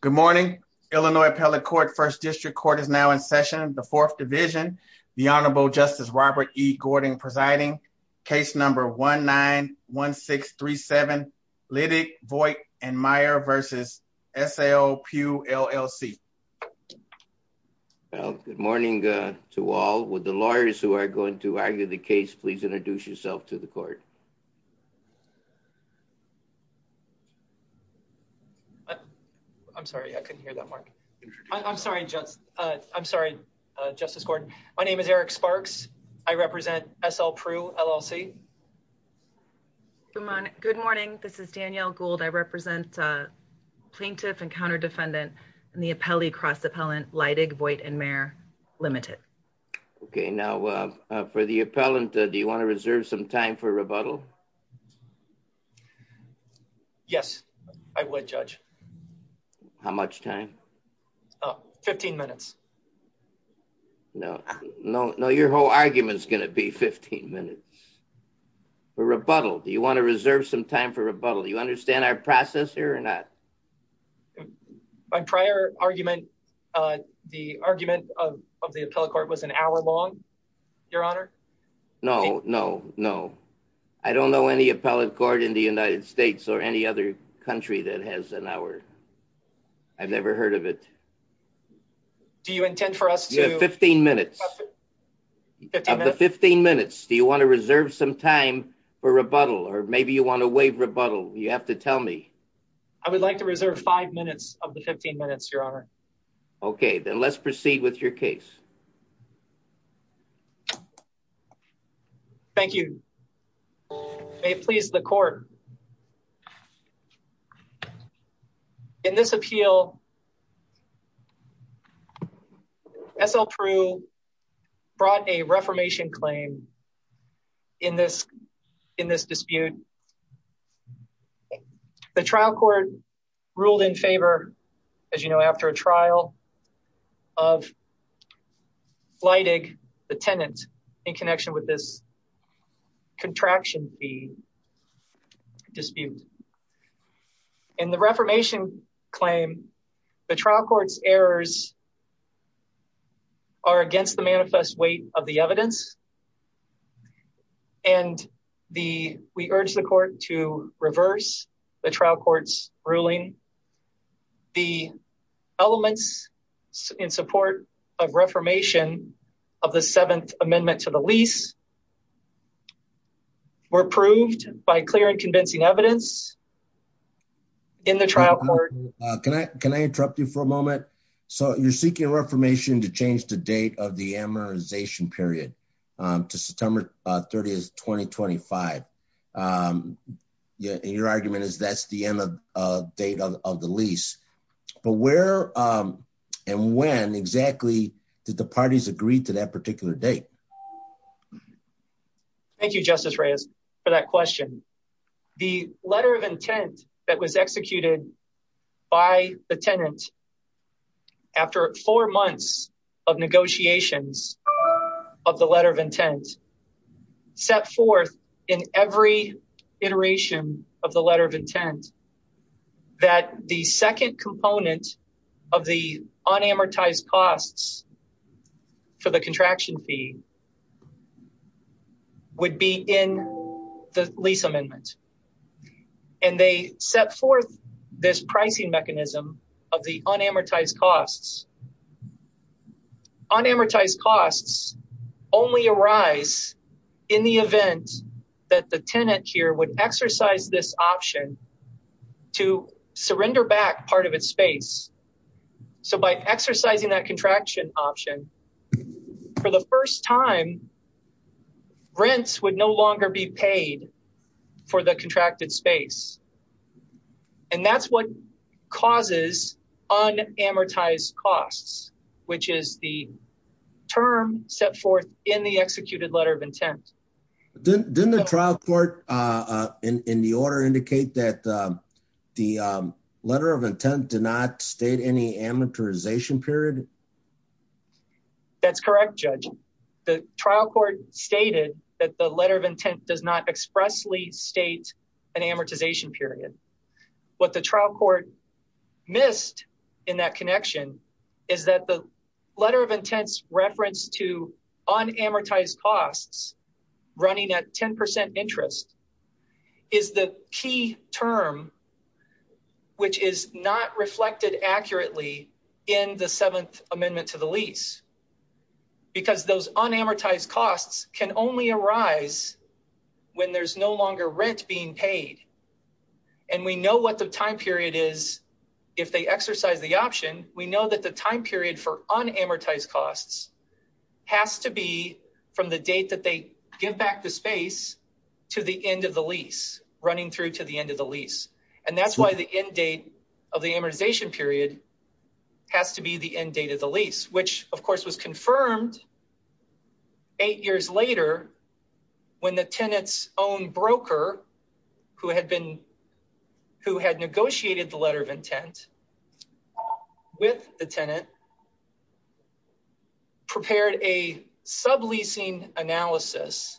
Good morning. Illinois Appellate Court, First District Court is now in session. The Fourth Division, the Honorable Justice Robert E. Gordon presiding. Case number 1-9-1-6-3-7, Liddick, Voigt & Meyer versus S.A.O.P.U.L.L.C. Well, good morning to all. Would the lawyers who are going to argue the case please introduce yourself to the court? I'm sorry, I couldn't hear that Mark. I'm sorry, I'm sorry, Justice Gordon. My name is Eric Sparks. I represent S.L.P.U.L.L.C. Good morning, this is Danielle Gould. I represent plaintiff and counter-defendant in the appellee cross-appellant Liddick, Voigt & Meyer limited. Okay, now for the appellant, do you want to reserve some time for rebuttal? Yes, I would judge. How much time? 15 minutes. No, no, no. Your whole argument is going to be 15 minutes for rebuttal. Do you want to reserve some time for rebuttal? Do you understand our process here or not? My prior argument, the argument of the appellate court was an hour long, Your Honor. No, no, no. I don't know any appellate court in the United States or any other country that has an hour. I've never heard of it. Do you intend for us to- You have 15 minutes. 15 minutes. Of the 15 minutes, do you want to reserve some time for rebuttal? Or maybe you want to waive rebuttal? You have to tell me. I would like to reserve five minutes of the 15 minutes, Your Honor. Okay, then let's proceed with your case. Thank you. May it please the court. In this appeal, S.L. Prew brought a reformation claim in this dispute. The trial court ruled in favor, as you know, after a trial of Leidig, the tenant, in connection with this contraction fee dispute. And the reformation claim, the trial court's errors are against the manifest weight of the evidence. And we urge the court to reverse the trial court's ruling. The elements in support of reformation of the Seventh Amendment to the lease were proved by clear and convincing evidence in the trial court- Can I interrupt you for a moment? So you're seeking a reformation to change the date of the amortization period to September 30th, 2025. And your argument is that's the end of date of the lease. But where and when exactly did the parties agree to that particular date? Thank you, Justice Reyes, for that question. The letter of intent that was executed by the tenant after four months of negotiations of the letter of intent set forth in every iteration of the letter of intent that the second component of the unamortized costs for the contraction fee would be in the lease amendment. And they set forth this pricing mechanism of the unamortized costs. Unamortized costs only arise in the event that the tenant here would exercise this option to surrender back part of its space. So by exercising that contraction option, for the first time, rents would no longer be paid for the contracted space. And that's what causes unamortized costs, which is the term set forth in the executed letter of intent. Didn't the trial court in the order indicate that the letter of intent did not state any amortization period? That's correct, Judge. The trial court stated that the letter of intent does not expressly state an amortization period. What the trial court missed in that connection is that the letter of intent's reference to unamortized costs running at 10% interest is the key term, which is not reflected accurately in the seventh amendment to the lease. Because those unamortized costs can only arise when there's no longer rent being paid. And we know what the time period is if they exercise the option. We know that the time period for unamortized costs has to be from the date that they give back the space to the end of the lease, running through to the end of the lease. And that's why the end date of the amortization period has to be the end date of the lease, which of course was confirmed eight years later when the tenant's own broker, who had negotiated the letter of intent with the tenant, prepared a subleasing analysis.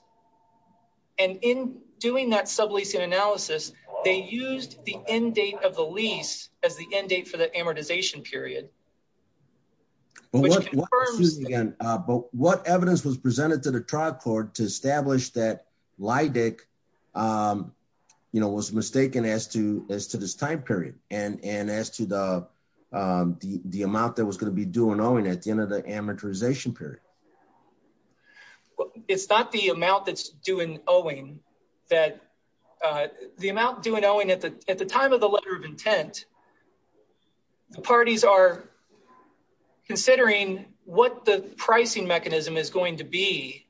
And in doing that subleasing analysis, they used the end date of the lease as the end date for the amortization period. Which confirms- But what evidence was presented to the trial court to establish that Lydick was mistaken as to this time period and as to the amount that was going to be due and owing at the end of the amortization period? It's not the amount that's due and owing, that the amount due and owing at the time of the letter of intent, the parties are considering what the pricing mechanism is going to be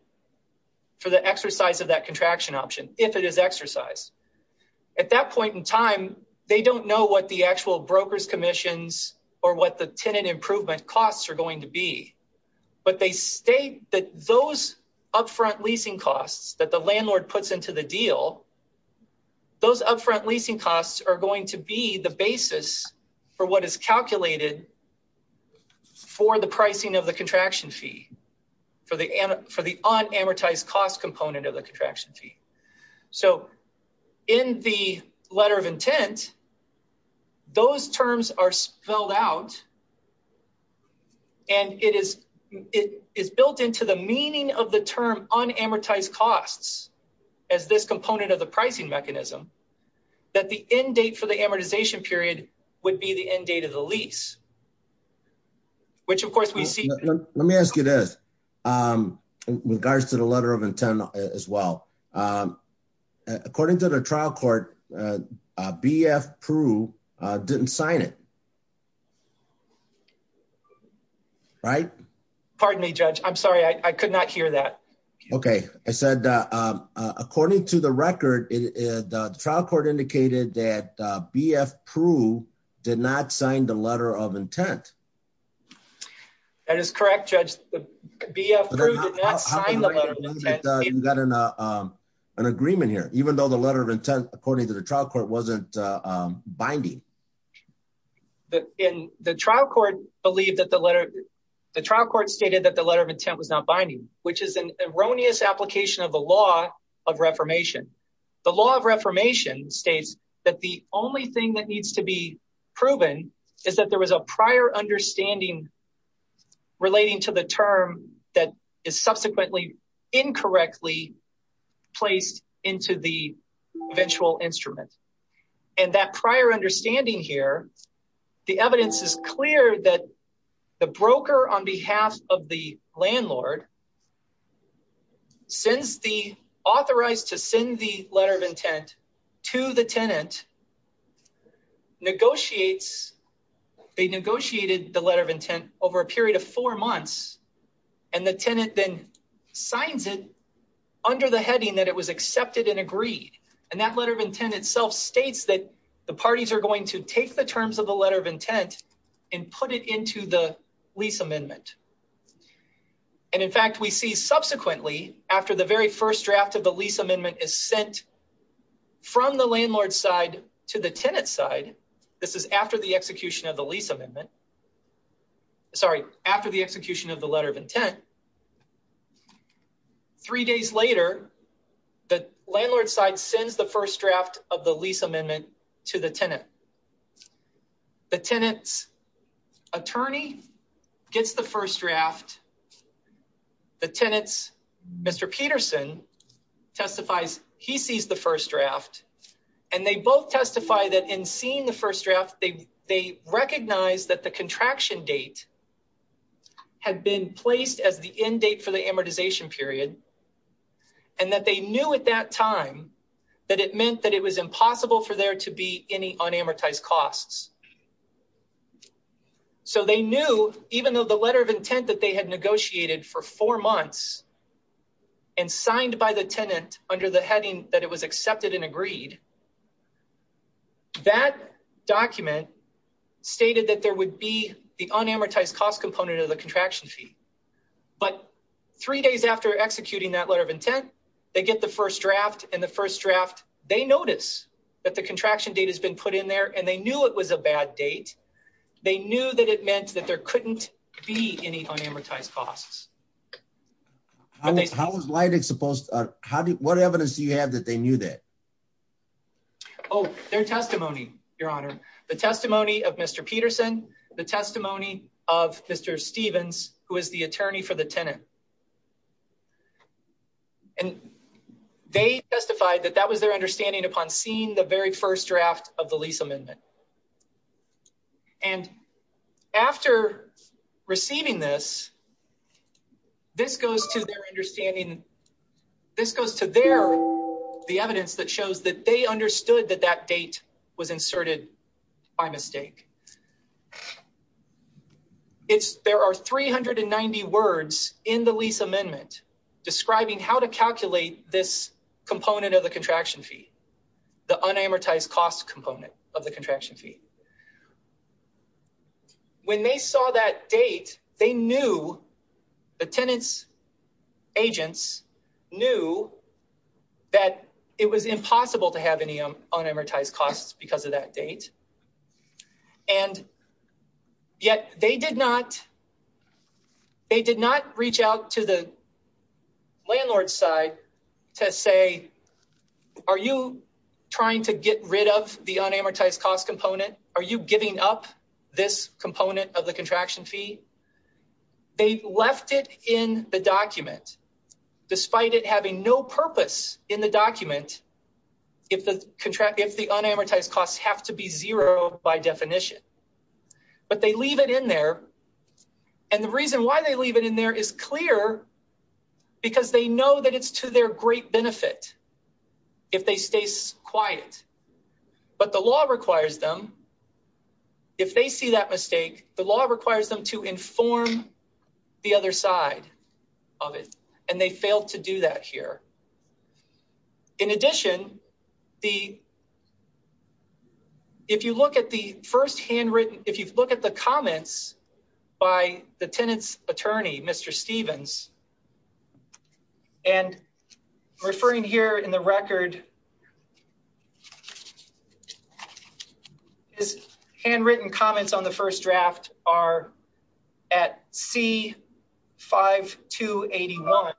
for the exercise of that contraction option, if it is exercised. At that point in time, they don't know what the actual broker's commissions or what the tenant improvement costs are going to be. But they state that those upfront leasing costs that the landlord puts into the deal, those upfront leasing costs are going to be the basis for what is calculated for the pricing of the contraction fee, for the unamortized cost component of the contraction fee. So in the letter of intent, those terms are spelled out and it is built into the meaning of the term unamortized costs as this component of the pricing mechanism, that the end date for the amortization period would be the end date of the lease, which of course we see. Let me ask you this, in regards to the letter of intent as well. According to the trial court, BF Prue didn't sign it. Right? Pardon me, Judge. I'm sorry, I could not hear that. Okay. I said, according to the record, the trial court indicated that BF Prue did not sign the letter of intent. That is correct, Judge. BF Prue did not sign the letter of intent. You got an agreement here. Even though the letter of intent, according to the trial court, wasn't binding. In the trial court believed that the letter, the trial court stated that the letter of intent was not binding, which is an erroneous application of the law of reformation. The law of reformation states that the only thing that needs to be proven is that there was a prior understanding relating to the term that is subsequently incorrectly placed into the eventual instrument. And that prior understanding here, the evidence is clear that the broker on behalf of the landlord sends the, authorized to send the letter of intent to the tenant, negotiates, they negotiated the letter of intent over a period of four months, and the tenant then signs it under the heading that it was accepted and agreed. And that letter of intent itself states that the parties are going to take the terms of the letter of intent and put it into the lease amendment. And in fact, we see subsequently, after the very first draft of the lease amendment is sent from the landlord's side to the tenant's side, this is after the execution of the lease amendment, sorry, after the execution of the letter of intent, three days later, the landlord's side sends the first draft of the lease amendment to the tenant. The tenant's attorney gets the first draft. The tenant's Mr. Peterson testifies, he sees the first draft, and they both testify that in seeing the first draft, they recognize that the contraction date had been placed as the end date for the amortization period, and that they knew at that time that it meant that it was impossible for there to be any unamortized costs. So they knew, even though the letter of intent that they had negotiated for four months and signed by the tenant under the heading that it was accepted and agreed, that document stated that there would be the unamortized cost component of the contraction fee. But three days after executing that letter of intent, they get the first draft, and the first draft, they notice that the contraction date has been put in there, and they knew it was a bad date. They knew that it meant that there couldn't be any unamortized costs. But they- How was Leidig supposed to, what evidence do you have that they knew that? Oh, their testimony, Your Honor. The testimony of Mr. Peterson, the testimony of Mr. Stevens, who is the attorney for the tenant. And they testified that that was their understanding upon seeing the very first draft of the lease amendment. And after receiving this, this goes to their understanding, this goes to their, the evidence that shows that they understood that that date was inserted by mistake. There are 390 words in the lease amendment describing how to calculate this component of the contraction fee, the unamortized cost component of the contraction fee. When they saw that date, they knew, the tenant's agents knew that it was impossible to have any unamortized costs because of that date. And yet they did not, they did not reach out to the landlord's side to say, are you trying to get rid of the unamortized cost component? Are you giving up this component of the contraction fee? They left it in the document, despite it having no purpose in the document if the unamortized costs have to be zero by definition. But they leave it in there. And the reason why they leave it in there is clear because they know that it's to their great benefit if they stay quiet. But the law requires them, if they see that mistake, the law requires them to inform the other side of it. And they failed to do that here. In addition, if you look at the first handwritten, if you look at the comments by the tenant's attorney, Mr. Stephens, and referring here in the record, his handwritten comments on the first draft are at C-5281.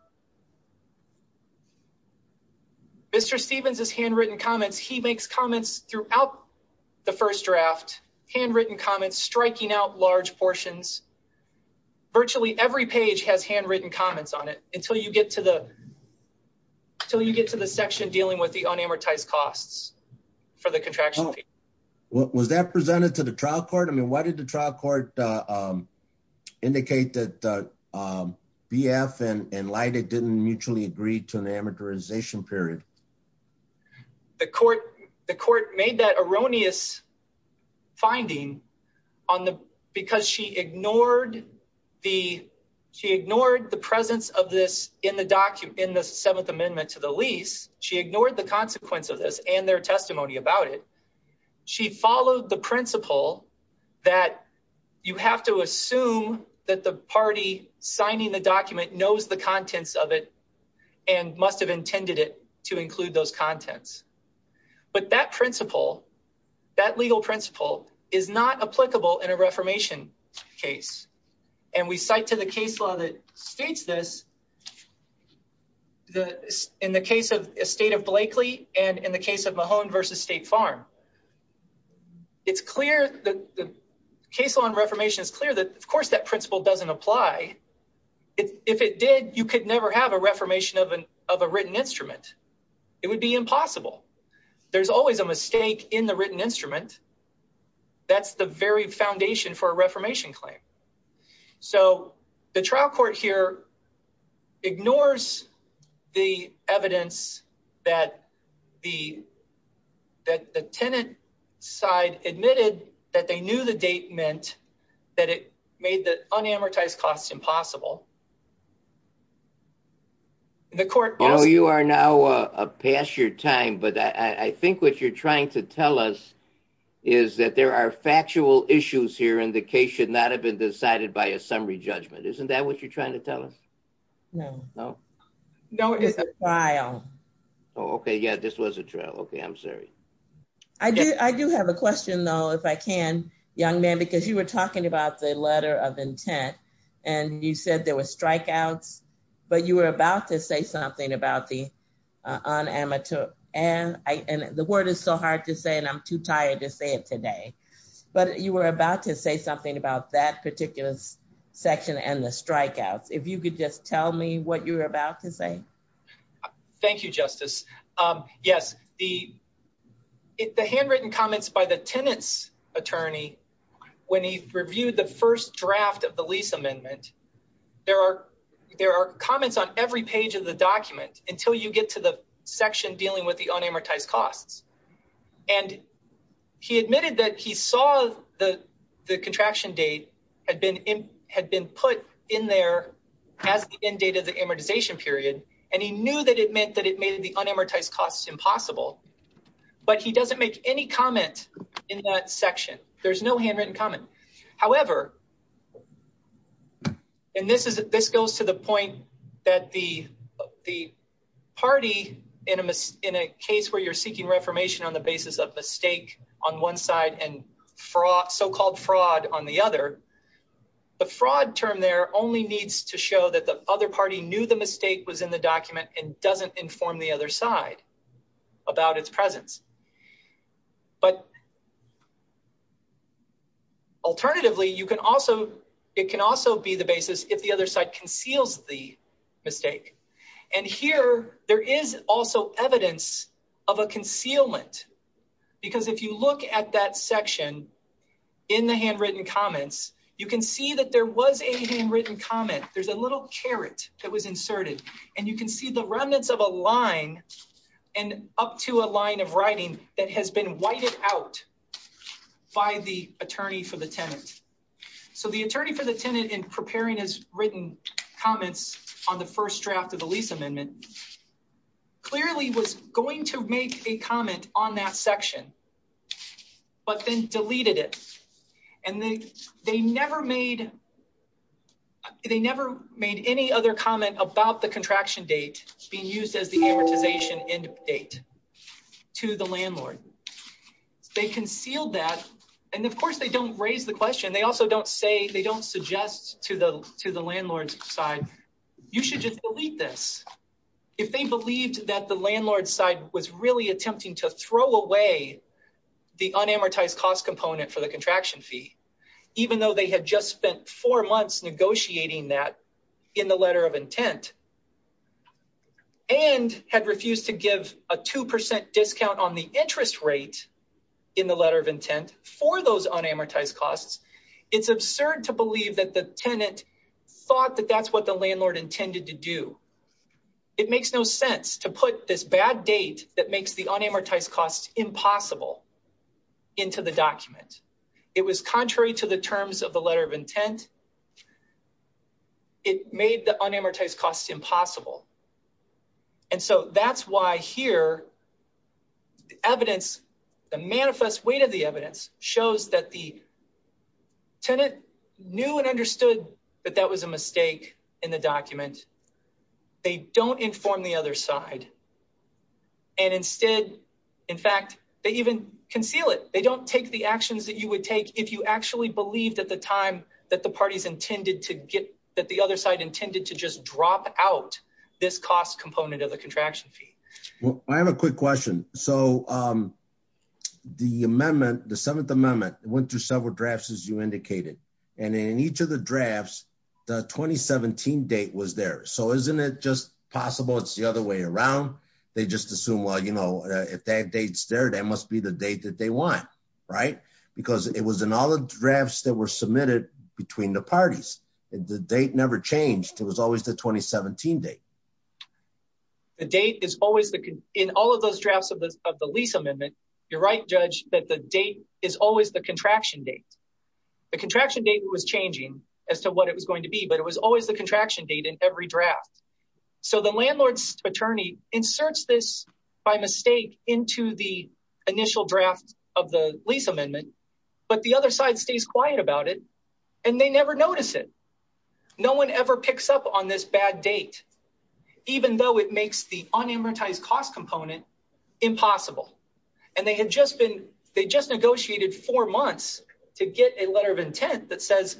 Mr. Stephens' handwritten comments, he makes comments throughout the first draft, handwritten comments, striking out large portions. Virtually every page has handwritten comments on it until you get to the section dealing with the unamortized costs for the contraction fee. Was that presented to the trial court? I mean, why did the trial court indicate that BF and Leida didn't mutually agree to an amortization period? The court made that erroneous finding on the, because she ignored the, she ignored the presence of this in the document, in the Seventh Amendment to the lease. She ignored the consequence of this and their testimony about it. She followed the principle that you have to assume that the party signing the document knows the contents of it and must have intended it to include those contents. But that principle, that legal principle is not applicable in a reformation case. And we cite to the case law that states this, in the case of estate of Blakely and in the case of Mahone versus State Farm. It's clear, the case law on reformation is clear that of course that principle doesn't apply. If it did, you could never have a reformation of a written instrument. It would be impossible. There's always a mistake in the written instrument. That's the very foundation for a reformation claim. So the trial court here ignores the evidence that the tenant side admitted that they knew the date meant that it made the unamortized costs impossible. The court- I know you are now past your time, but I think what you're trying to tell us is that there are factual issues here and the case should not have been decided by a summary judgment. Isn't that what you're trying to tell us? No. No? No, it's a trial. Oh, okay, yeah, this was a trial. Okay, I'm sorry. I do have a question though, if I can, young man, because you were talking about the letter of intent and you said there was strikeouts, but you were about to say something about the unamateur, and the word is so hard to say and I'm too tired to say it today, but you were about to say something about that particular section and the strikeouts. If you could just tell me what you were about to say. Thank you, Justice. Yes, the handwritten comments by the tenant's attorney when he reviewed the first draft of the lease amendment, there are comments on every page of the document until you get to the section dealing with the unamortized costs. And he admitted that he saw the contraction date had been put in there as the end date of the amortization period, and he knew that it meant that it made the unamortized costs impossible, but he doesn't make any comment in that section. There's no handwritten comment. However, and this goes to the point that the party in a case where you're seeking reformation on the basis of mistake on one side and so-called fraud on the other, the fraud term there only needs to show that the other party knew the mistake was in the document and doesn't inform the other side about its presence. But alternatively, it can also be the basis if the other side conceals the mistake. And here, there is also evidence of a concealment, because if you look at that section in the handwritten comments, you can see that there was a handwritten comment. There's a little caret that was inserted, and you can see the remnants of a line and up to a line of writing that has been whited out by the attorney for the tenant. So the attorney for the tenant in preparing his written comments on the first draft of the lease amendment clearly was going to make a comment on that section, but then deleted it. And they never made any other comment about the contraction date being used as the amortization end date to the landlord. They concealed that, and of course they don't raise the question. They also don't say, they don't suggest to the landlord's side, you should just delete this. If they believed that the landlord's side was really attempting to throw away the unamortized cost component for the contraction fee, even though they had just spent four months negotiating that in the letter of intent, and had refused to give a 2% discount on the interest rate in the letter of intent for those unamortized costs, it's absurd to believe that the tenant thought that that's what the landlord intended to do. It makes no sense to put this bad date that makes the unamortized costs impossible It was contrary to the terms of the letter of intent. And it made the unamortized costs impossible. And so that's why here, the evidence, the manifest weight of the evidence shows that the tenant knew and understood that that was a mistake in the document. They don't inform the other side. And instead, in fact, they even conceal it. They don't take the actions that you would take if you actually believed at the time that the parties intended to get, that the other side intended to just drop out this cost component of the contraction fee. I have a quick question. So the amendment, the seventh amendment went through several drafts as you indicated. And in each of the drafts, the 2017 date was there. So isn't it just possible it's the other way around? They just assume, well, you know, if that date's there, that must be the date that they want, right? Because it was in all the drafts that were submitted between the parties and the date never changed. It was always the 2017 date. The date is always, in all of those drafts of the lease amendment, you're right, Judge, that the date is always the contraction date. The contraction date was changing as to what it was going to be, but it was always the contraction date in every draft. So the landlord's attorney inserts this by mistake into the initial draft of the lease amendment, but the other side stays quiet about it and they never notice it. No one ever picks up on this bad date, even though it makes the unamortized cost component impossible. And they had just been, they just negotiated four months to get a letter of intent that says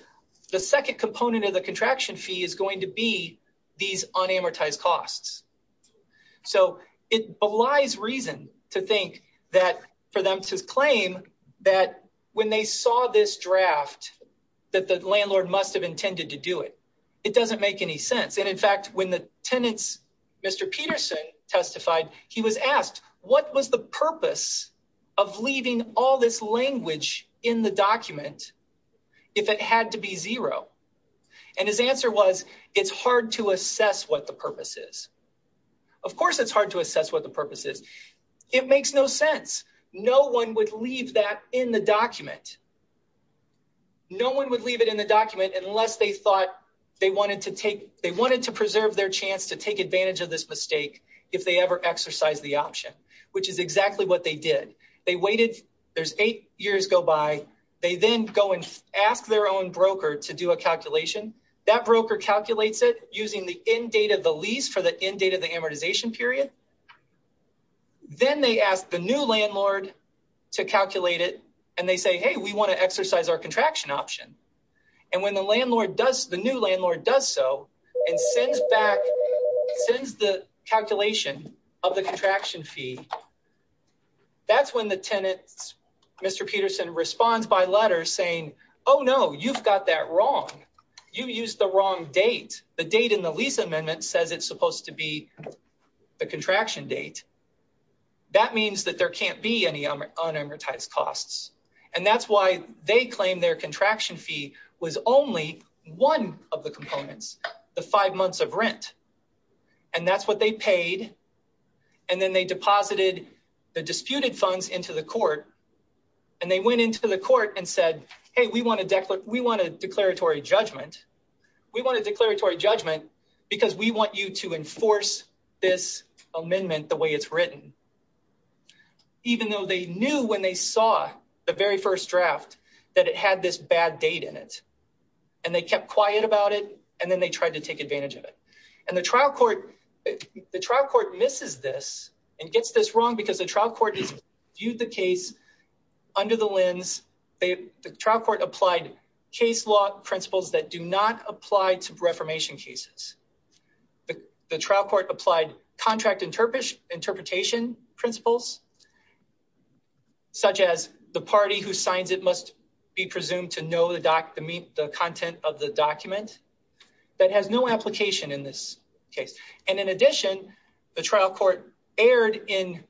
the second component of the contraction fee is going to be these unamortized costs. So it belies reason to think that for them to claim that when they saw this draft, that the landlord must have intended to do it. It doesn't make any sense. And in fact, when the tenants, Mr. Peterson testified, he was asked what was the purpose of leaving all this language in the document if it had to be zero? And his answer was, it's hard to assess what the purpose is. Of course, it's hard to assess what the purpose is. It makes no sense. No one would leave that in the document. No one would leave it in the document unless they thought they wanted to take, they wanted to preserve their chance to take advantage of this mistake if they ever exercise the option, which is exactly what they did. They waited, there's eight years go by, they then go and ask their own broker to do a calculation. That broker calculates it using the end date of the lease for the end date of the amortization period. Then they asked the new landlord to calculate it. And they say, hey, we wanna exercise our contraction option. And when the landlord does, the new landlord does so and sends back, sends the calculation of the contraction fee, that's when the tenants, Mr. Peterson responds by letter saying, oh no, you've got that wrong. You used the wrong date. The date in the lease amendment says it's supposed to be the contraction date. That means that there can't be any unamortized costs. And that's why they claim their contraction fee was only one of the components, the five months of rent. And that's what they paid. And then they deposited the disputed funds into the court. And they went into the court and said, hey, we want a declaratory judgment. We want a declaratory judgment because we want you to enforce this amendment the way it's written. Even though they knew when they saw the very first draft that it had this bad date in it. And they kept quiet about it. And then they tried to take advantage of it. And the trial court misses this and gets this wrong because the trial court viewed the case under the lens. The trial court applied case law principles that do not apply to reformation cases. The trial court applied contract interpretation principles such as the party who signs it must be presumed to know the content of the document that has no application in this case. And in addition, the trial court erred in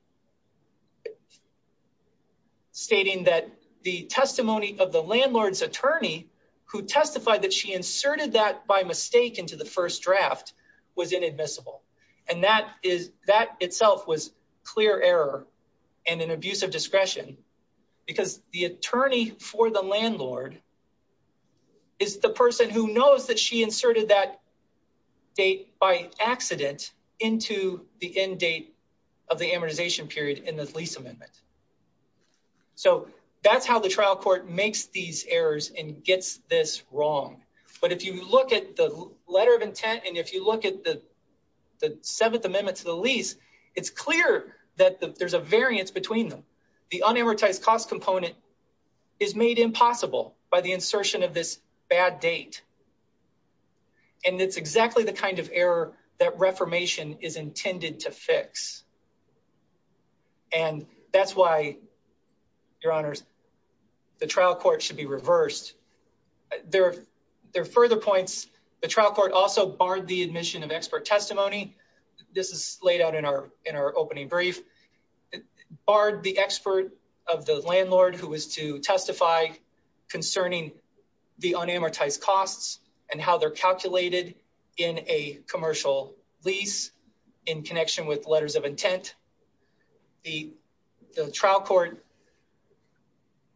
stating that the testimony of the landlord's attorney who testified that she inserted that by mistake into the first draft was inadmissible. And that itself was clear error and an abuse of discretion because the attorney for the landlord is the person who knows that she inserted that date by accident into the end date of the amortization period in the lease amendment. So that's how the trial court makes these errors and gets this wrong. But if you look at the letter of intent and if you look at the seventh amendment to the lease, it's clear that there's a variance between them. The unamortized cost component is made impossible by the insertion of this bad date. And it's exactly the kind of error And that's why, your honors, the trial court should be reversed. There are further points. The trial court also barred the admission of expert testimony. This is laid out in our opening brief. Barred the expert of the landlord who was to testify concerning the unamortized costs in connection with letters of intent. The trial court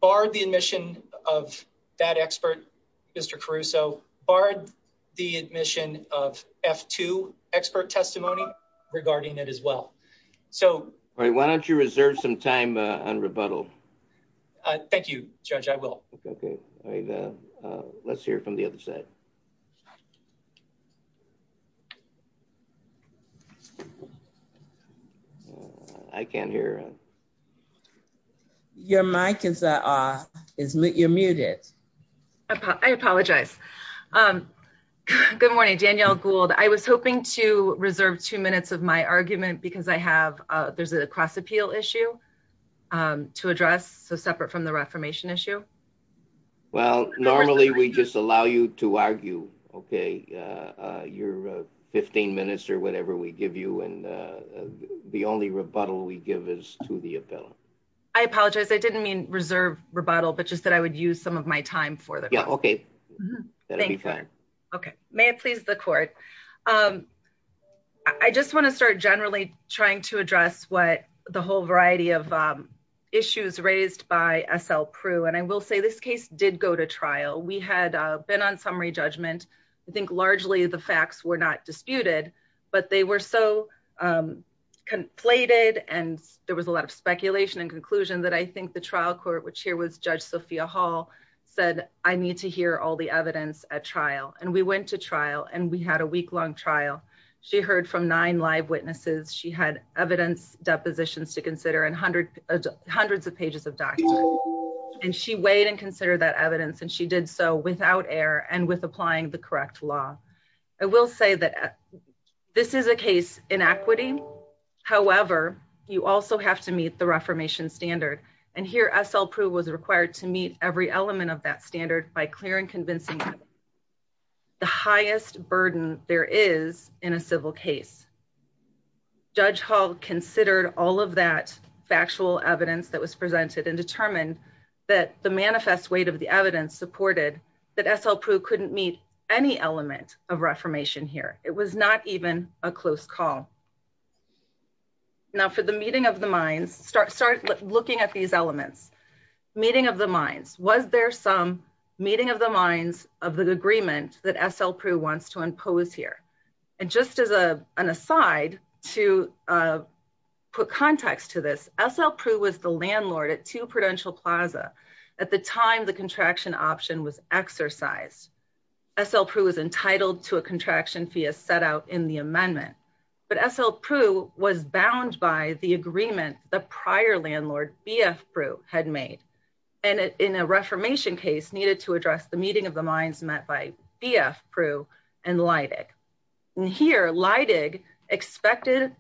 barred the admission of that expert, Mr. Caruso, barred the admission of F2 expert testimony regarding it as well. So- Why don't you reserve some time on rebuttal? Thank you, judge, I will. Okay, let's hear from the other side. I can't hear. Your mic is muted. I apologize. Good morning, Danielle Gould. I was hoping to reserve two minutes of my argument because I have, there's a cross appeal issue to address. So separate from the reformation issue. Well, normally we just allow you to argue, okay. You're a 15 minutes or whatever we give you and the only rebuttal we give is to the appellant. I apologize, I didn't mean reserve rebuttal, but just that I would use some of my time for that. Yeah, okay, that'll be fine. Okay, may it please the court. I just want to start generally trying to address what the whole variety of issues raised by SL Prue. And I will say this case did go to trial. We had been on summary judgment. I think largely the facts were not disputed, but they were so conflated. And there was a lot of speculation and conclusion that I think the trial court, which here was Judge Sophia Hall said, I need to hear all the evidence at trial. And we went to trial and we had a week long trial. She heard from nine live witnesses. She had evidence depositions to consider and hundreds of pages of documents. And she weighed and considered that evidence and she did so without error and with applying the correct law. I will say that this is a case in equity. However, you also have to meet the reformation standard. And here SL Prue was required to meet every element of that standard by clear and convincing that the highest burden there is in a civil case. Judge Hall considered all of that factual evidence that was presented and determined that the manifest weight of the evidence supported that SL Prue couldn't meet any element of reformation here. It was not even a close call. Now for the meeting of the minds, start looking at these elements. Meeting of the minds, was there some meeting of the minds of the agreement that SL Prue wants to impose here? And just as an aside to put context to this, SL Prue was the landlord at 2 Prudential Plaza. At the time, the contraction option was exercised. SL Prue was entitled to a contraction fee as set out in the amendment. But SL Prue was bound by the agreement the prior landlord BF Prue had made. And in a reformation case needed to address the meeting of the minds met by BF Prue and Leidig. And here Leidig expected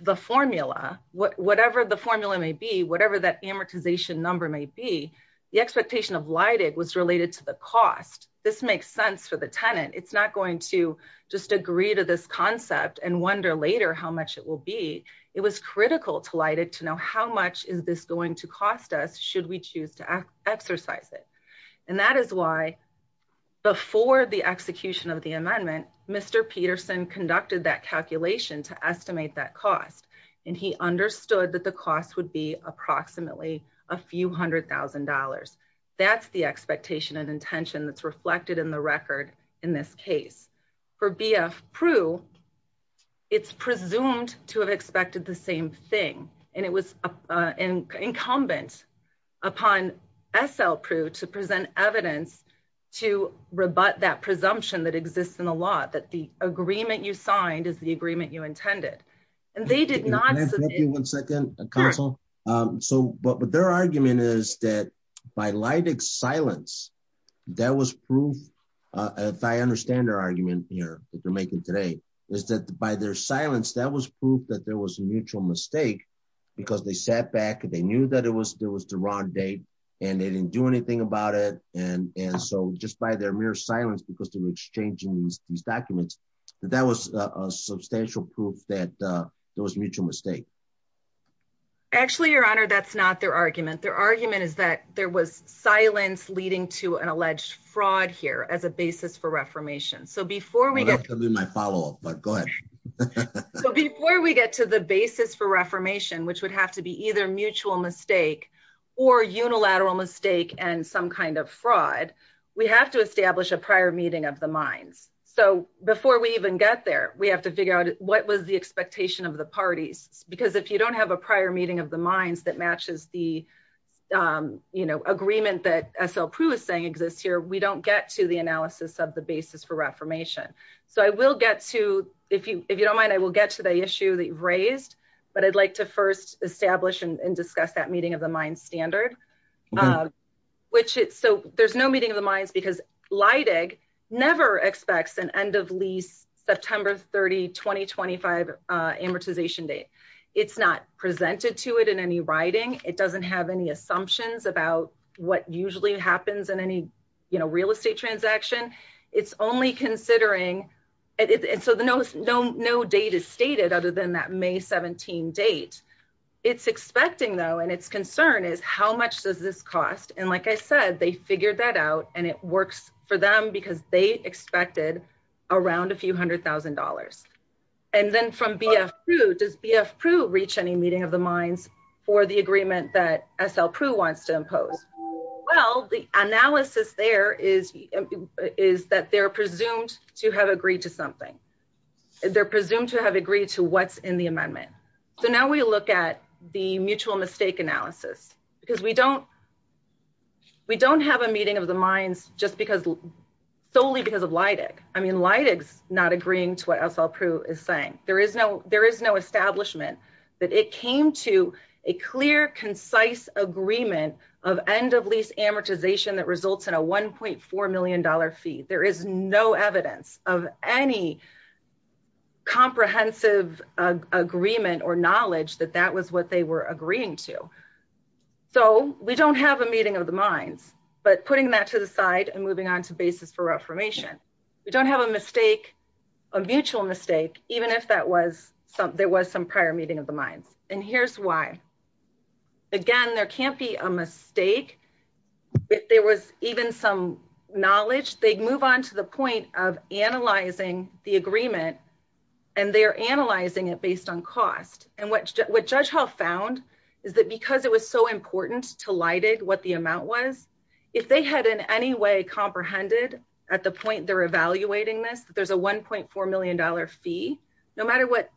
the formula, whatever the formula may be, whatever that amortization number may be, the expectation of Leidig was related to the cost. This makes sense for the tenant. It's not going to just agree to this concept and wonder later how much it will be. It was critical to Leidig to know how much is this going to cost us should we choose to exercise it? And that is why before the execution of the amendment, Mr. Peterson conducted that calculation to estimate that cost. And he understood that the cost would be approximately a few hundred thousand dollars. That's the expectation and intention that's reflected in the record in this case. For BF Prue, it's presumed to have expected the same thing. And it was incumbent upon SL Prue to present evidence to rebut that presumption that exists in the law that the agreement you signed is the agreement you intended. And they did not- Can I interrupt you one second, counsel? So, but their argument is that by Leidig's silence, that was proof, if I understand their argument here, if you're making today, is that by their silence, that was proof that there was a mutual mistake because they sat back and they knew that there was the wrong date and they didn't do anything about it. And so just by their mere silence, because they were exchanging these documents, that was a substantial proof that there was mutual mistake. Actually, your honor, that's not their argument. Their argument is that there was silence leading to an alleged fraud here as a basis for reformation. So before we get- I'm gonna have to do my follow-up, but go ahead. So before we get to the basis for reformation, which would have to be either mutual mistake or unilateral mistake and some kind of fraud, we have to establish a prior meeting of the minds. So before we even get there, we have to figure out what was the expectation of the parties? Because if you don't have a prior meeting of the minds that matches the agreement that S.L. Proulx is saying exists here, we don't get to the analysis of the basis for reformation. So I will get to, if you don't mind, I will get to the issue that you've raised, but I'd like to first establish and discuss that meeting of the minds standard, which is, so there's no meeting of the minds because Leydig never expects an end of lease September 30, 2025 amortization date. It's not presented to it in any writing. It doesn't have any assumptions about what usually happens in any real estate transaction. It's only considering, and so no date is stated other than that May 17 date. It's expecting though, and it's concern is how much does this cost? And like I said, they figured that out and it works for them because they expected around a few hundred thousand dollars. And then from B.F. Proulx, does B.F. Proulx reach any meeting of the minds for the agreement that S.L. Proulx wants to impose? Well, the analysis there is that they're presumed to have agreed to something. They're presumed to have agreed to what's in the amendment. So now we look at the mutual mistake analysis because we don't have a meeting of the minds just solely because of Leydig. I mean, Leydig's not agreeing to what S.L. Proulx is saying. There is no establishment that it came to a clear, concise agreement of end of lease amortization that results in a $1.4 million fee. There is no evidence of any comprehensive agreement or knowledge that that was what they were agreeing to. So we don't have a meeting of the minds, but putting that to the side and moving on to basis for reformation. We don't have a mistake, a mutual mistake, even if there was some prior meeting of the minds. And here's why. Again, there can't be a mistake. If there was even some knowledge, they'd move on to the point of analyzing the agreement and they're analyzing it based on cost. And what Judge Hall found is that because it was so important to Leydig what the amount was, if they had in any way comprehended at the point they're evaluating this, there's a $1.4 million fee, no matter what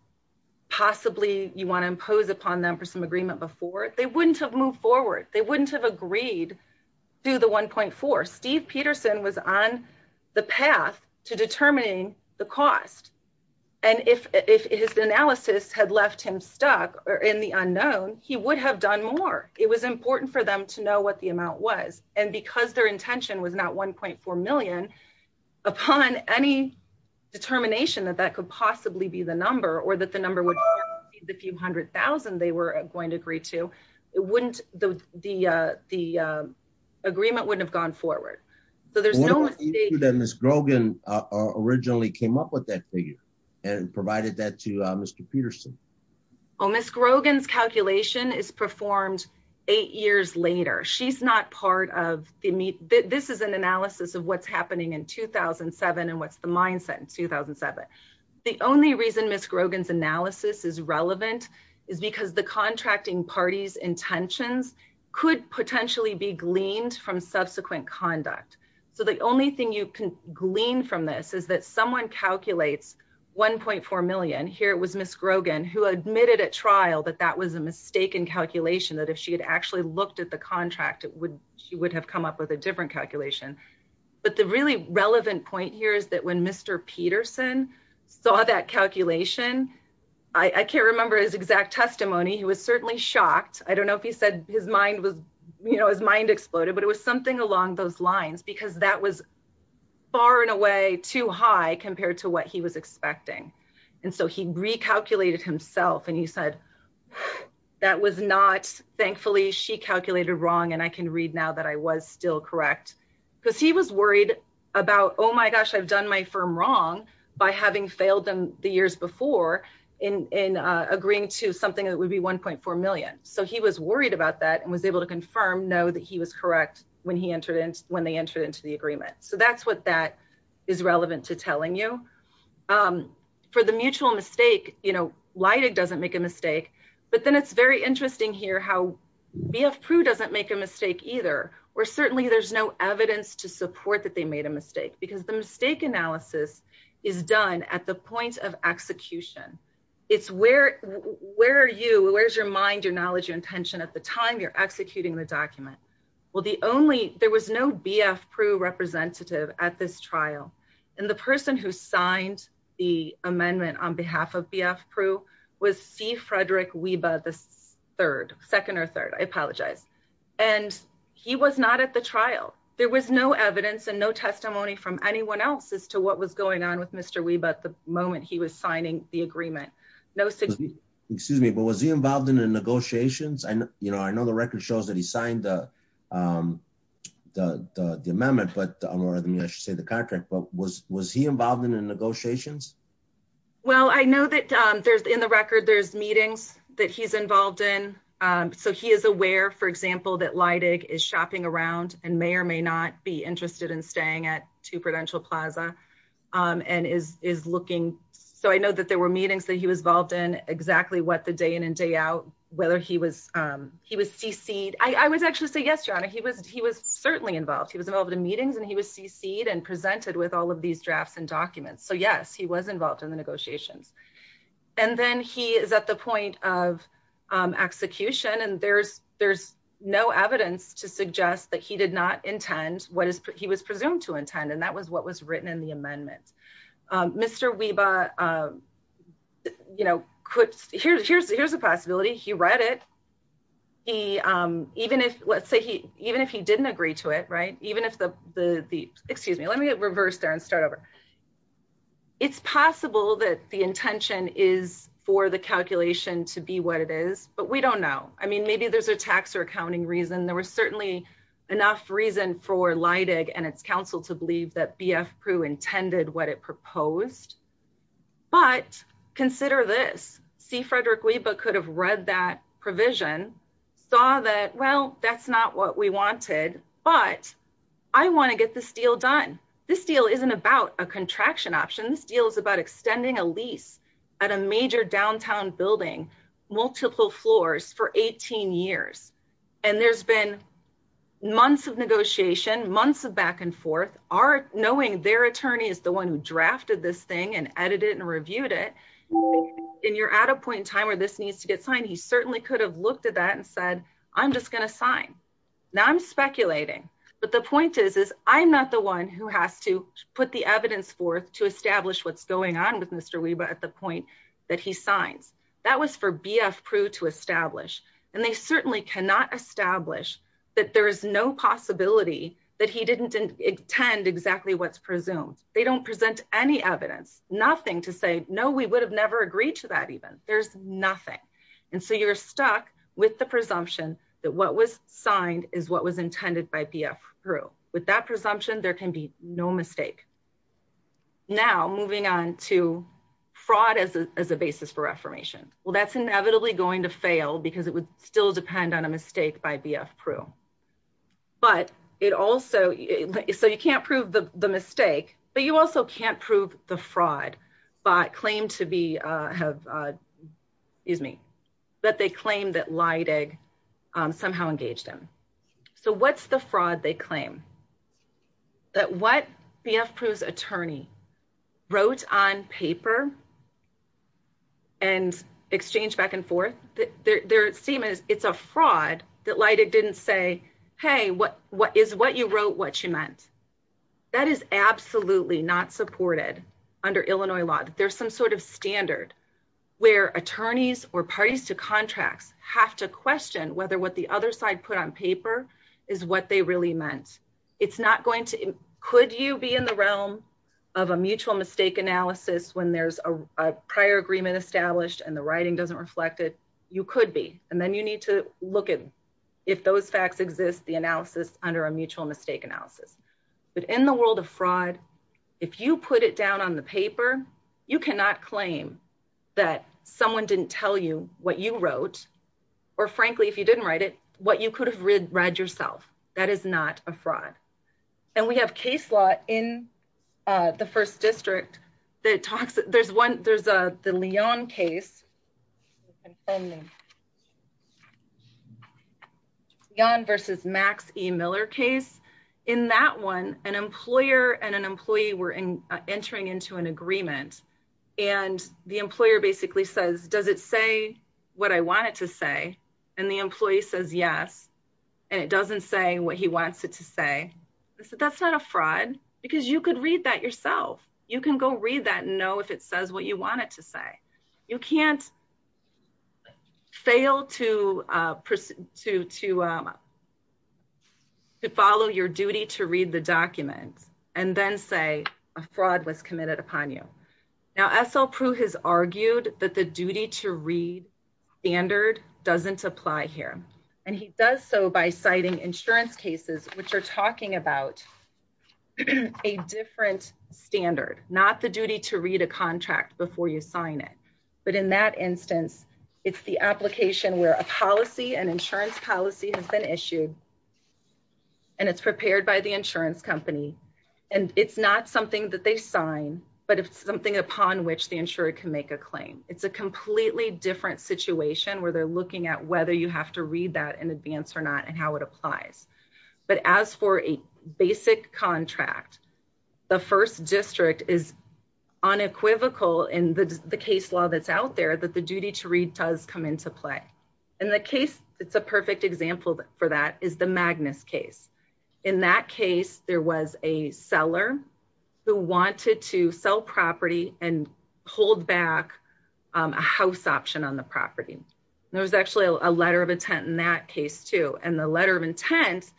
possibly you want to impose upon them for some agreement before, they wouldn't have moved forward. They wouldn't have agreed to the 1.4. Steve Peterson was on the path to determining the cost. And if his analysis had left him stuck or in the unknown, he would have done more. It was important for them to know what the amount was. And because their intention was not 1.4 million, upon any determination that that could possibly be the number or that the number would be the few hundred thousand they were going to agree to, the agreement wouldn't have gone forward. So there's no mistake. I believe that Ms. Grogan originally came up with that figure and provided that to Mr. Peterson. Oh, Ms. Grogan's calculation is performed eight years later. She's not part of the... This is an analysis of what's happening in 2007 and what's the mindset in 2007. The only reason Ms. Grogan's analysis is relevant is because the contracting parties intentions could potentially be gleaned from subsequent conduct. So the only thing you can glean from this is that someone calculates 1.4 million. Here it was Ms. Grogan who admitted at trial that that was a mistake in calculation, that if she had actually looked at the contract, she would have come up with a different calculation. But the really relevant point here is that when Mr. Peterson saw that calculation, I can't remember his exact testimony. He was certainly shocked. I don't know if he said his mind was... His mind exploded, but it was something along those lines. Because that was far and away too high compared to what he was expecting. And so he recalculated himself and he said, that was not, thankfully, she calculated wrong. And I can read now that I was still correct. Because he was worried about, oh my gosh, I've done my firm wrong by having failed them the years before in agreeing to something that would be 1.4 million. So he was worried about that and was able to confirm, know that he was correct when they entered into the agreement. So that's what that is relevant to telling you. For the mutual mistake, Leidig doesn't make a mistake. But then it's very interesting here how BF Proulx doesn't make a mistake either. Or certainly there's no evidence to support that they made a mistake. Because the mistake analysis is done at the point of execution. It's where are you, where's your mind, your knowledge, your intention at the time you're executing the document? Well, the only, there was no BF Proulx representative at this trial. And the person who signed the amendment on behalf of BF Proulx was C. Frederick Weba III, second or third, I apologize. And he was not at the trial. There was no evidence and no testimony from anyone else as to what was going on with Mr. Weba at the moment he was signing the agreement. No, excuse me, but was he involved in the negotiations? I know the record shows that he signed the amendment, but I don't know whether I should say the contract, but was he involved in the negotiations? Well, I know that there's in the record, there's meetings that he's involved in. So he is aware, for example, that Leidig is shopping around and may or may not be interested in staying at Two Prudential Plaza and is looking. So I know that there were meetings that he was involved in exactly what the day in and day out, whether he was CC'd. I would actually say, yes, Your Honor, he was certainly involved. He was involved in meetings and he was CC'd and presented with all of these drafts and documents. So yes, he was involved in the negotiations. And then he is at the point of execution and there's no evidence to suggest that he did not intend what he was presumed to intend. And that was what was written in the amendment. Mr. Weba, you know, here's a possibility. He read it. Even if, let's say, even if he didn't agree to it, right? Even if the, excuse me, let me get reversed there and start over. It's possible that the intention is for the calculation to be what it is, but we don't know. I mean, maybe there's a tax or accounting reason. There was certainly enough reason for Leidig and its counsel to believe that BF Prud intended what it proposed. But consider this. See, Frederick Weba could have read that provision, saw that, well, that's not what we wanted, but I want to get this deal done. This deal isn't about a contraction option. This deal is about extending a lease at a major downtown building, multiple floors for 18 years. And there's been months of negotiation, months of back and forth. Knowing their attorney is the one who drafted this thing and edited and reviewed it. And you're at a point in time where this needs to get signed. He certainly could have looked at that and said, I'm just going to sign. Now I'm speculating, but the point is, is I'm not the one who has to put the evidence forth to establish what's going on with Mr. Weba at the point that he signs. That was for BF Prud to establish. And they certainly cannot establish that there is no possibility that he didn't intend exactly what's presumed. They don't present any evidence, nothing to say, no, we would have never agreed to that even. There's nothing. And so you're stuck with the presumption that what was signed is what was intended by BF Prud. With that presumption, there can be no mistake. Now, moving on to fraud as a basis for reformation. Well, that's inevitably going to fail because it would still depend on a mistake by BF Prud. But it also, so you can't prove the mistake, but you also can't prove the fraud. But claim to be, have, excuse me, that they claim that Leidig somehow engaged him. So what's the fraud they claim? That what BF Prud's attorney wrote on paper and exchanged back and forth, their statement is it's a fraud that Leidig didn't say, hey, is what you wrote what you meant? That is absolutely not supported under Illinois law. There's some sort of standard where attorneys or parties to contracts have to question whether what the other side put on paper is what they really meant. It's not going to, could you be in the realm of a mutual mistake analysis when there's a prior agreement established and the writing doesn't reflect it? You could be. And then you need to look at if those facts exist, the analysis under a mutual mistake analysis. But in the world of fraud, if you put it down on the paper, you cannot claim that someone didn't tell you what you wrote, or frankly, if you didn't write it, what you could have read yourself. That is not a fraud. And we have case law in the first district that talks, there's one, there's the Leon case. I'm sending. Leon versus Max E. Miller case. In that one, an employer and an employee were entering into an agreement and the employer basically says, does it say what I want it to say? And the employee says, yes, and it doesn't say what he wants it to say. I said, that's not a fraud because you could read that yourself. You can go read that and know if it says what you want it to say. You can't fail to follow your duty to read the documents and then say a fraud was committed upon you. Now, SL Prue has argued that the duty to read standard doesn't apply here. And he does so by citing insurance cases, which are talking about a different standard, not the duty to read a contract before you sign it. But in that instance, it's the application where a policy and insurance policy has been issued and it's prepared by the insurance company. And it's not something that they sign, but it's something upon which the insurer can make a claim. It's a completely different situation where they're looking at whether you have to read that in advance or not and how it applies. But as for a basic contract, the first district is unequivocal in the case law that's out there that the duty to read does come into play. And the case that's a perfect example for that is the Magnus case. In that case, there was a seller who wanted to sell property and hold back a house option on the property. There was actually a letter of intent in that case too. And the letter of intent,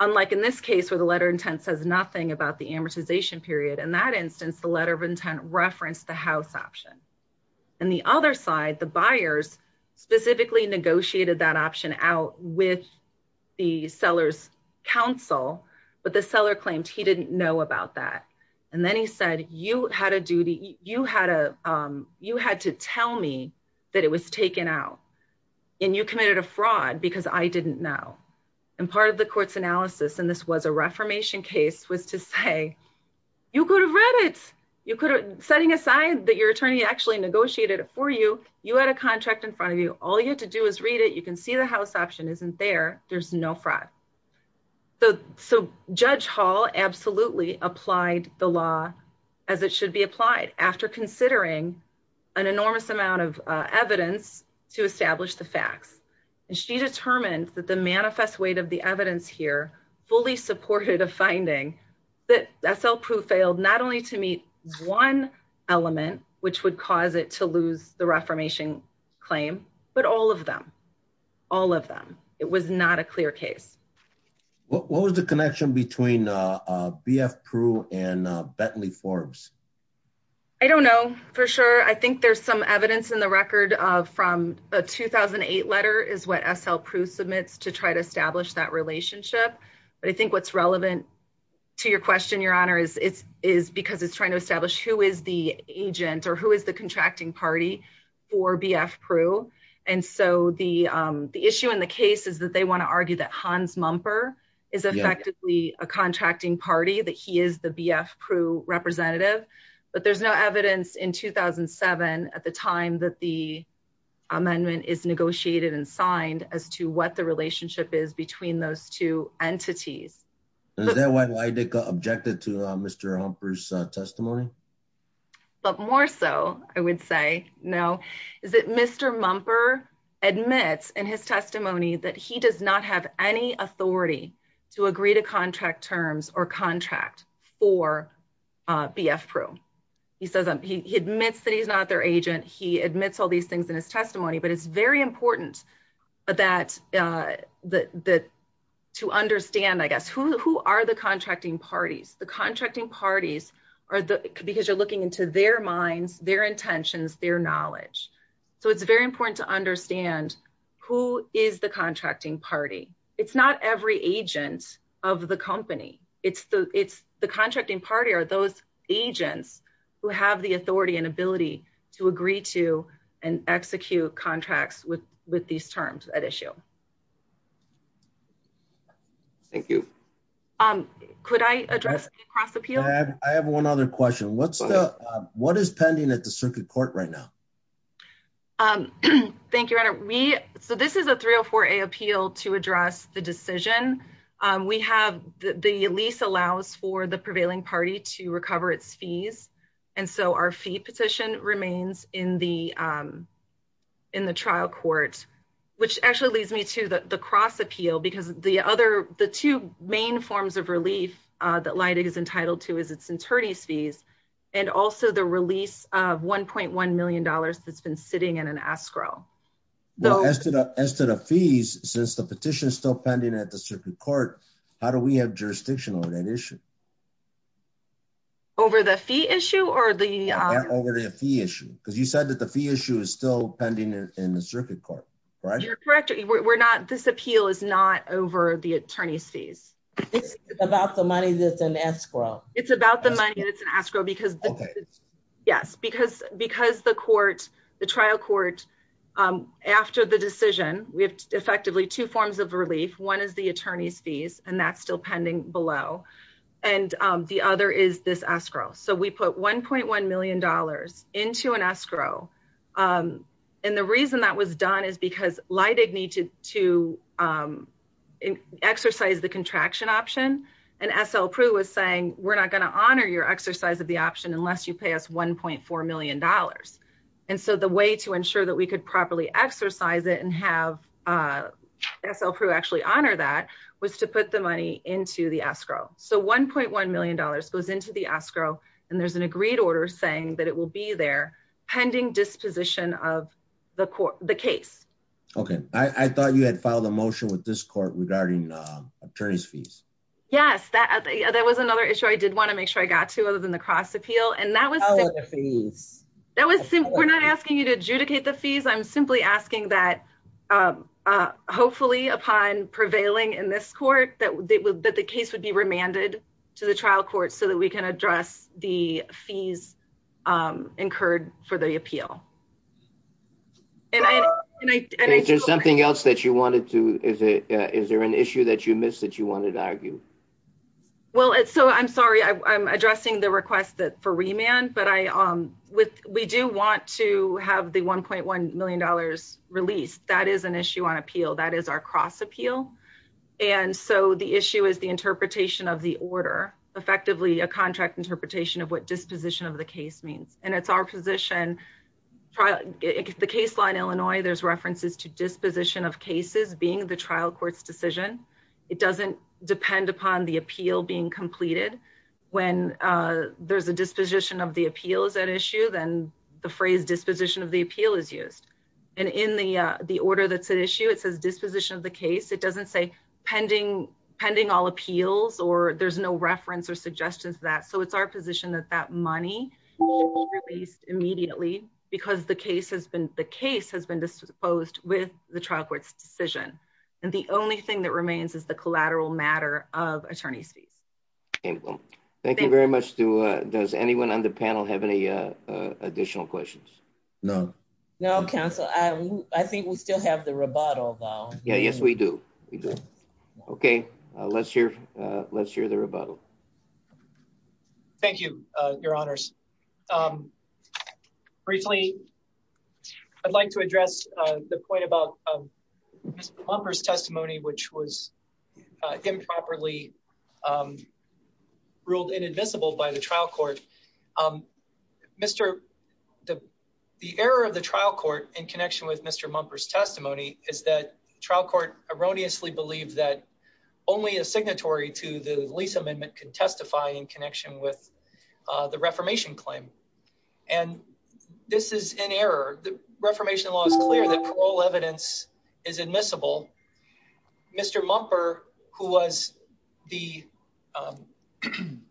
unlike in this case where the letter of intent says nothing about the amortization period, in that instance, the letter of intent referenced the house option. And the other side, the buyers specifically negotiated that option out with the seller's counsel, but the seller claimed he didn't know about that. And then he said, you had to tell me that it was taken out and you committed a fraud because I didn't know. And part of the court's analysis, and this was a reformation case, was to say, you could have read it. Setting aside that your attorney actually negotiated it for you, you had a contract in front of you. All you had to do is read it. You can see the house option isn't there. There's no fraud. So Judge Hall absolutely applied the law as it should be applied after considering an enormous amount of evidence to establish the facts. And she determined that the manifest weight of the evidence here fully supported a finding that SL Prue failed not only to meet one element, which would cause it to lose the reformation claim, but all of them, all of them. It was not a clear case. What was the connection between BF Prue and Bentley Forbes? I don't know for sure. I think there's some evidence in the record from a 2008 letter is what SL Prue submits to try to establish that relationship. But I think what's relevant to your question, your honor, is because it's trying to establish who is the agent or who is the contracting party for BF Prue. And so the issue in the case is that they wanna argue that Hans Mumper is effectively a contracting party, that he is the BF Prue representative. But there's no evidence in 2007 at the time that the amendment is negotiated and signed as to what the relationship is between those two entities. Is that why they got objected to Mr. Mumper's testimony? But more so, I would say, no, is that Mr. Mumper admits in his testimony that he does not have any authority to agree to contract terms or contract for BF Prue. He admits that he's not their agent. He admits all these things in his testimony, but it's very important to understand, I guess, who are the contracting parties? The contracting parties are the, because you're looking into their minds, their intentions, their knowledge. So it's very important to understand who is the contracting party. It's not every agent of the company. It's the contracting party or those agents who have the authority and ability to agree to and execute contracts with these terms at issue. Thank you. Could I address the cross appeal? I have one other question. What's the, what is pending at the circuit court right now? Thank you, Your Honor. So this is a 304A appeal to address the decision. to recover its fees. And so our fee petition remains in the trial court, which actually leads me to the cross appeal because the other, the two main forms of relief that Leida is entitled to is its attorney's fees and also the release of $1.1 million that's been sitting in an escrow. Though- As to the fees, since the petition is still pending at the circuit court, how do we have jurisdiction over that issue? Over the fee issue or the- Over the fee issue. Because you said that the fee issue is still pending in the circuit court, right? You're correct. We're not, this appeal is not over the attorney's fees. It's about the money that's in escrow. It's about the money that's in escrow because- Okay. Yes, because the court, the trial court, after the decision, we have effectively two forms of relief. One is the attorney's fees and that's still pending below. And the other is this escrow. So we put $1.1 million into an escrow. And the reason that was done is because Leida needed to exercise the contraction option. And S.L. Proulx was saying, we're not going to honor your exercise of the option unless you pay us $1.4 million. And so the way to ensure that we could properly exercise it and have S.L. Proulx actually honor that was to put the money into the escrow. So $1.1 million goes into the escrow and there's an agreed order saying that it will be there pending disposition of the case. Okay. I thought you had filed a motion with this court regarding attorney's fees. Yes, that was another issue I did want to make sure I got to other than the cross appeal. And that was- Oh, the fees. That was, we're not asking you to adjudicate the fees. I'm simply asking that, hopefully upon prevailing in this court, that the case would be remanded to the trial court so that we can address the fees incurred for the appeal. And I- There's something else that you wanted to, is there an issue that you missed that you wanted to argue? Well, so I'm sorry, I'm addressing the request for remand, but we do want to have the $1.1 million released. That is an issue on appeal. That is our cross appeal. And so the issue is the interpretation of the order, effectively a contract interpretation of what disposition of the case means. And it's our position, the case law in Illinois, there's references to disposition of cases being the trial court's decision. It doesn't depend upon the appeal being completed. When there's a disposition of the appeal is at issue, then the phrase disposition of the appeal is used. And in the order that's at issue, it says disposition of the case. It doesn't say pending all appeals, or there's no reference or suggestions of that. So it's our position that that money should be released immediately because the case has been disposed with the trial court's decision. And the only thing that remains is the collateral matter of attorney's fees. Okay, well, thank you very much. Does anyone on the panel have any additional questions? No. No, counsel, I think we still have the rebuttal though. Yeah, yes, we do, we do. Okay, let's hear the rebuttal. Thank you, your honors. Briefly, I'd like to address the point about Mr. Lumper's testimony, which was improperly ruled inadmissible by the trial court. Mr., the error of the trial court in connection with Mr. Lumper's testimony is that trial court erroneously believed that only a signatory to the lease amendment could testify in connection with the reformation claim. And this is an error. The reformation law is clear that parole evidence is admissible. Mr. Lumper, who was the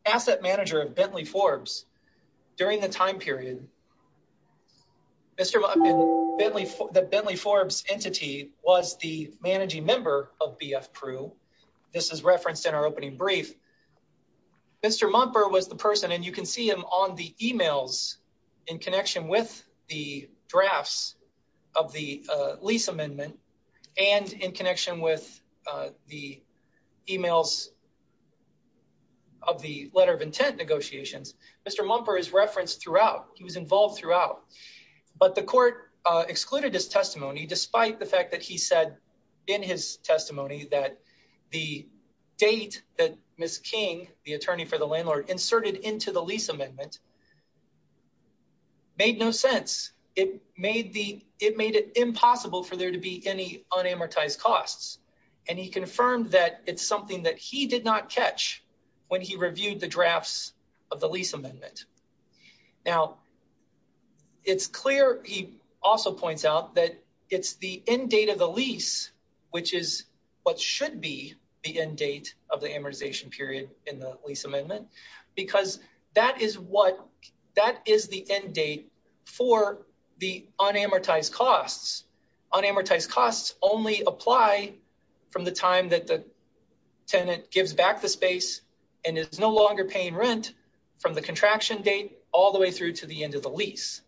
asset manager of Bentley Forbes, during the time period, Mr., the Bentley Forbes entity was the managing member of BFPREW. This is referenced in our opening brief. Mr. Lumper was the person, and you can see him on the emails in connection with the drafts of the lease amendment and in connection with the emails of the letter of intent negotiations. Mr. Lumper is referenced throughout. He was involved throughout, but the court excluded his testimony, despite the fact that he said in his testimony that the date that Ms. King, the attorney for the landlord, inserted into the lease amendment made no sense. It made it impossible for there to be any unamortized costs. And he confirmed that it's something that he did not catch when he reviewed the drafts of the lease amendment. Now, it's clear, he also points out, that it's the end date of the lease, which is what should be the end date of the amortization period in the lease amendment, because that is what, that is the end date for the unamortized costs. Unamortized costs only apply from the time that the tenant gives back the space and is no longer paying rent, from the contraction date all the way through to the end of the lease.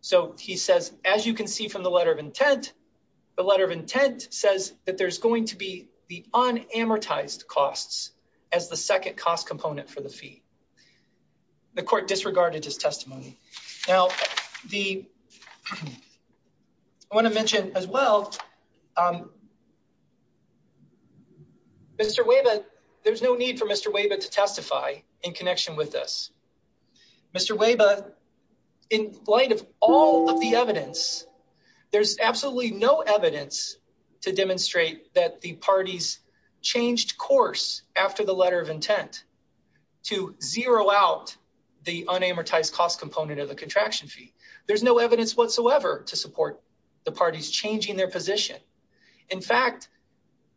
So he says, as you can see from the letter of intent, the letter of intent says that there's going to be the unamortized costs as the second cost component for the fee. The court disregarded his testimony. Now, I wanna mention as well, Mr. Weyba, there's no need for Mr. Weyba to testify in connection with this. Mr. Weyba, in light of all of the evidence, there's absolutely no evidence to demonstrate that the parties changed course after the letter of intent to zero out the unamortized costs component of the contraction fee. There's no evidence whatsoever to support the parties changing their position. In fact,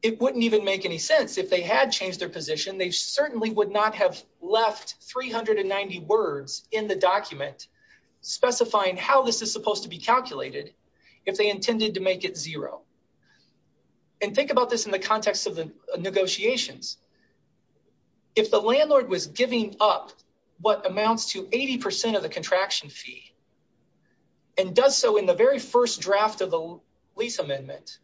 it wouldn't even make any sense if they had changed their position, they certainly would not have left 390 words in the document specifying how this is supposed to be calculated if they intended to make it zero. And think about this in the context of the negotiations. If the landlord was giving up what amounts to 80% of the contraction fee and does so in the very first draft of the lease amendment,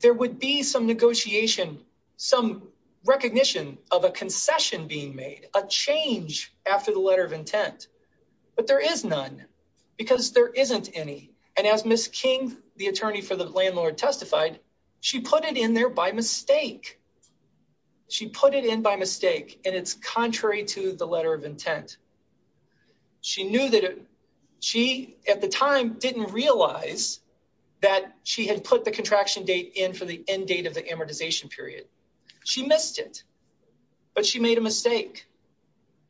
there would be some negotiation, some recognition of a concession being made, a change after the letter of intent, but there is none because there isn't any. And as Ms. King, the attorney for the landlord testified, she put it in there by mistake. and it's contrary to the letter of intent. She knew that she at the time didn't realize that she had put the contraction date in for the end date of the amortization period. She missed it, but she made a mistake.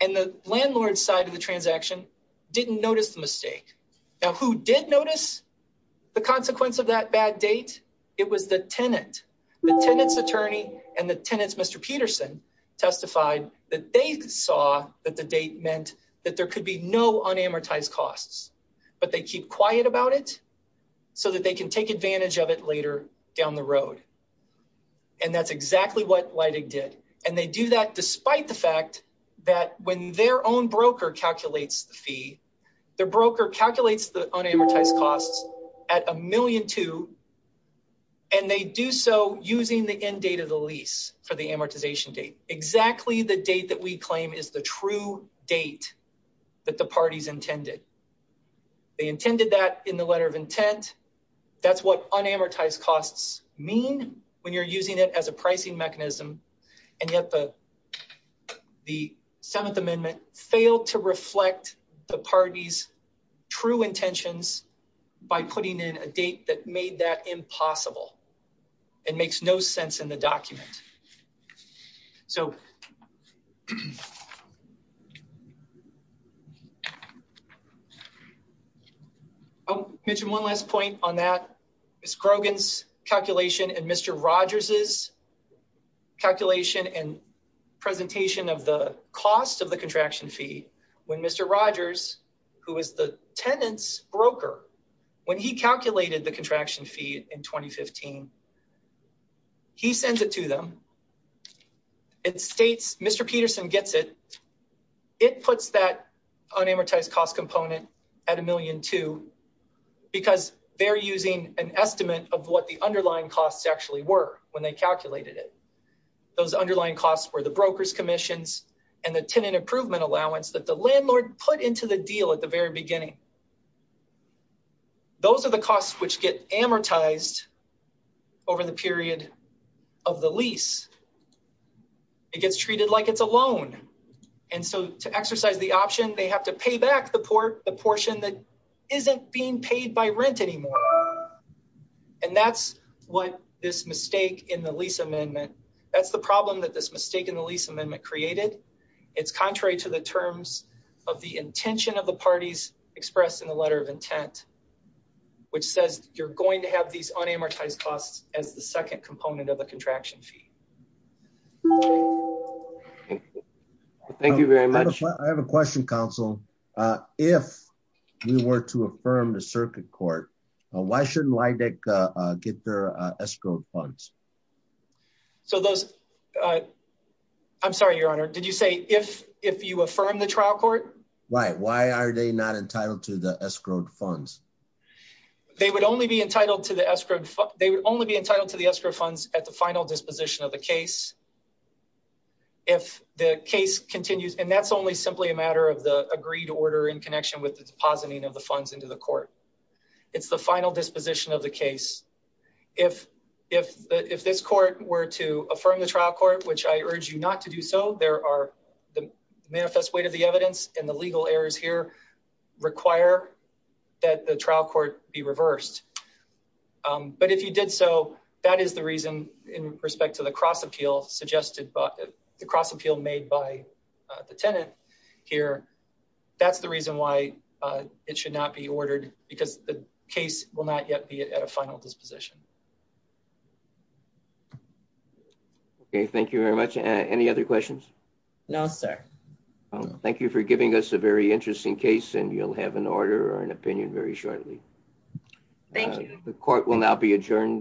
And the landlord side of the transaction didn't notice the mistake. Now who did notice the consequence of that bad date? It was the tenant, the tenant's attorney and the tenant's Mr. Peterson testified that they saw that the date meant that there could be no unamortized costs, but they keep quiet about it so that they can take advantage of it later down the road. And that's exactly what Leidig did. And they do that despite the fact that when their own broker calculates the fee, the broker calculates the unamortized costs at a million two and they do so using the end date of the lease for the amortization date, exactly the date that we claim is the true date that the parties intended. They intended that in the letter of intent. That's what unamortized costs mean when you're using it as a pricing mechanism. And yet the Seventh Amendment failed to reflect the party's true intentions by putting in a date that made that impossible and makes no sense in the document. So, I'll mention one last point on that. Ms. Grogan's calculation and Mr. Rogers' calculation and presentation of the cost of the contraction fee when Mr. Rogers, who is the tenant's broker, when he calculated the contraction fee in 2015, he sends it to them. It states, Mr. Peterson gets it. It puts that unamortized cost component at a million two because they're using an estimate of what the underlying costs actually were when they calculated it. Those underlying costs were the broker's commissions and the tenant improvement allowance that the landlord put into the deal at the very beginning. Those are the costs which get amortized over the period of the lease. It gets treated like it's a loan. And so to exercise the option, they have to pay back the portion that isn't being paid by rent anymore. And that's what this mistake in the lease amendment, that's the problem that this mistake in the lease amendment created. It's contrary to the terms of the intention of the parties expressed in the letter of intent, which says you're going to have these unamortized costs as the second component of the contraction fee. Thank you very much. I have a question, counsel. If we were to affirm the circuit court, why shouldn't Leideck get their escrowed funds? So those, I'm sorry, your honor. Did you say if you affirm the trial court? Right, why are they not entitled to the escrowed funds? They would only be entitled to the escrowed funds at the final disposition of the case. If the case continues, and that's only simply a matter of the agreed order in connection with the depositing of the funds into the court. It's the final disposition of the case. If this court were to affirm the trial court, which I urge you not to do so, there are the manifest weight of the evidence and the legal errors here require that the trial court be reversed. But if you did so, that is the reason in respect to the cross appeal suggested by the cross appeal made by the tenant here. That's the reason why it should not be ordered because the case will not yet be at a final disposition. Okay, thank you very much. Any other questions? No, sir. Thank you for giving us a very interesting case and you'll have an order or an opinion very shortly. Thank you. The court will now be adjourned.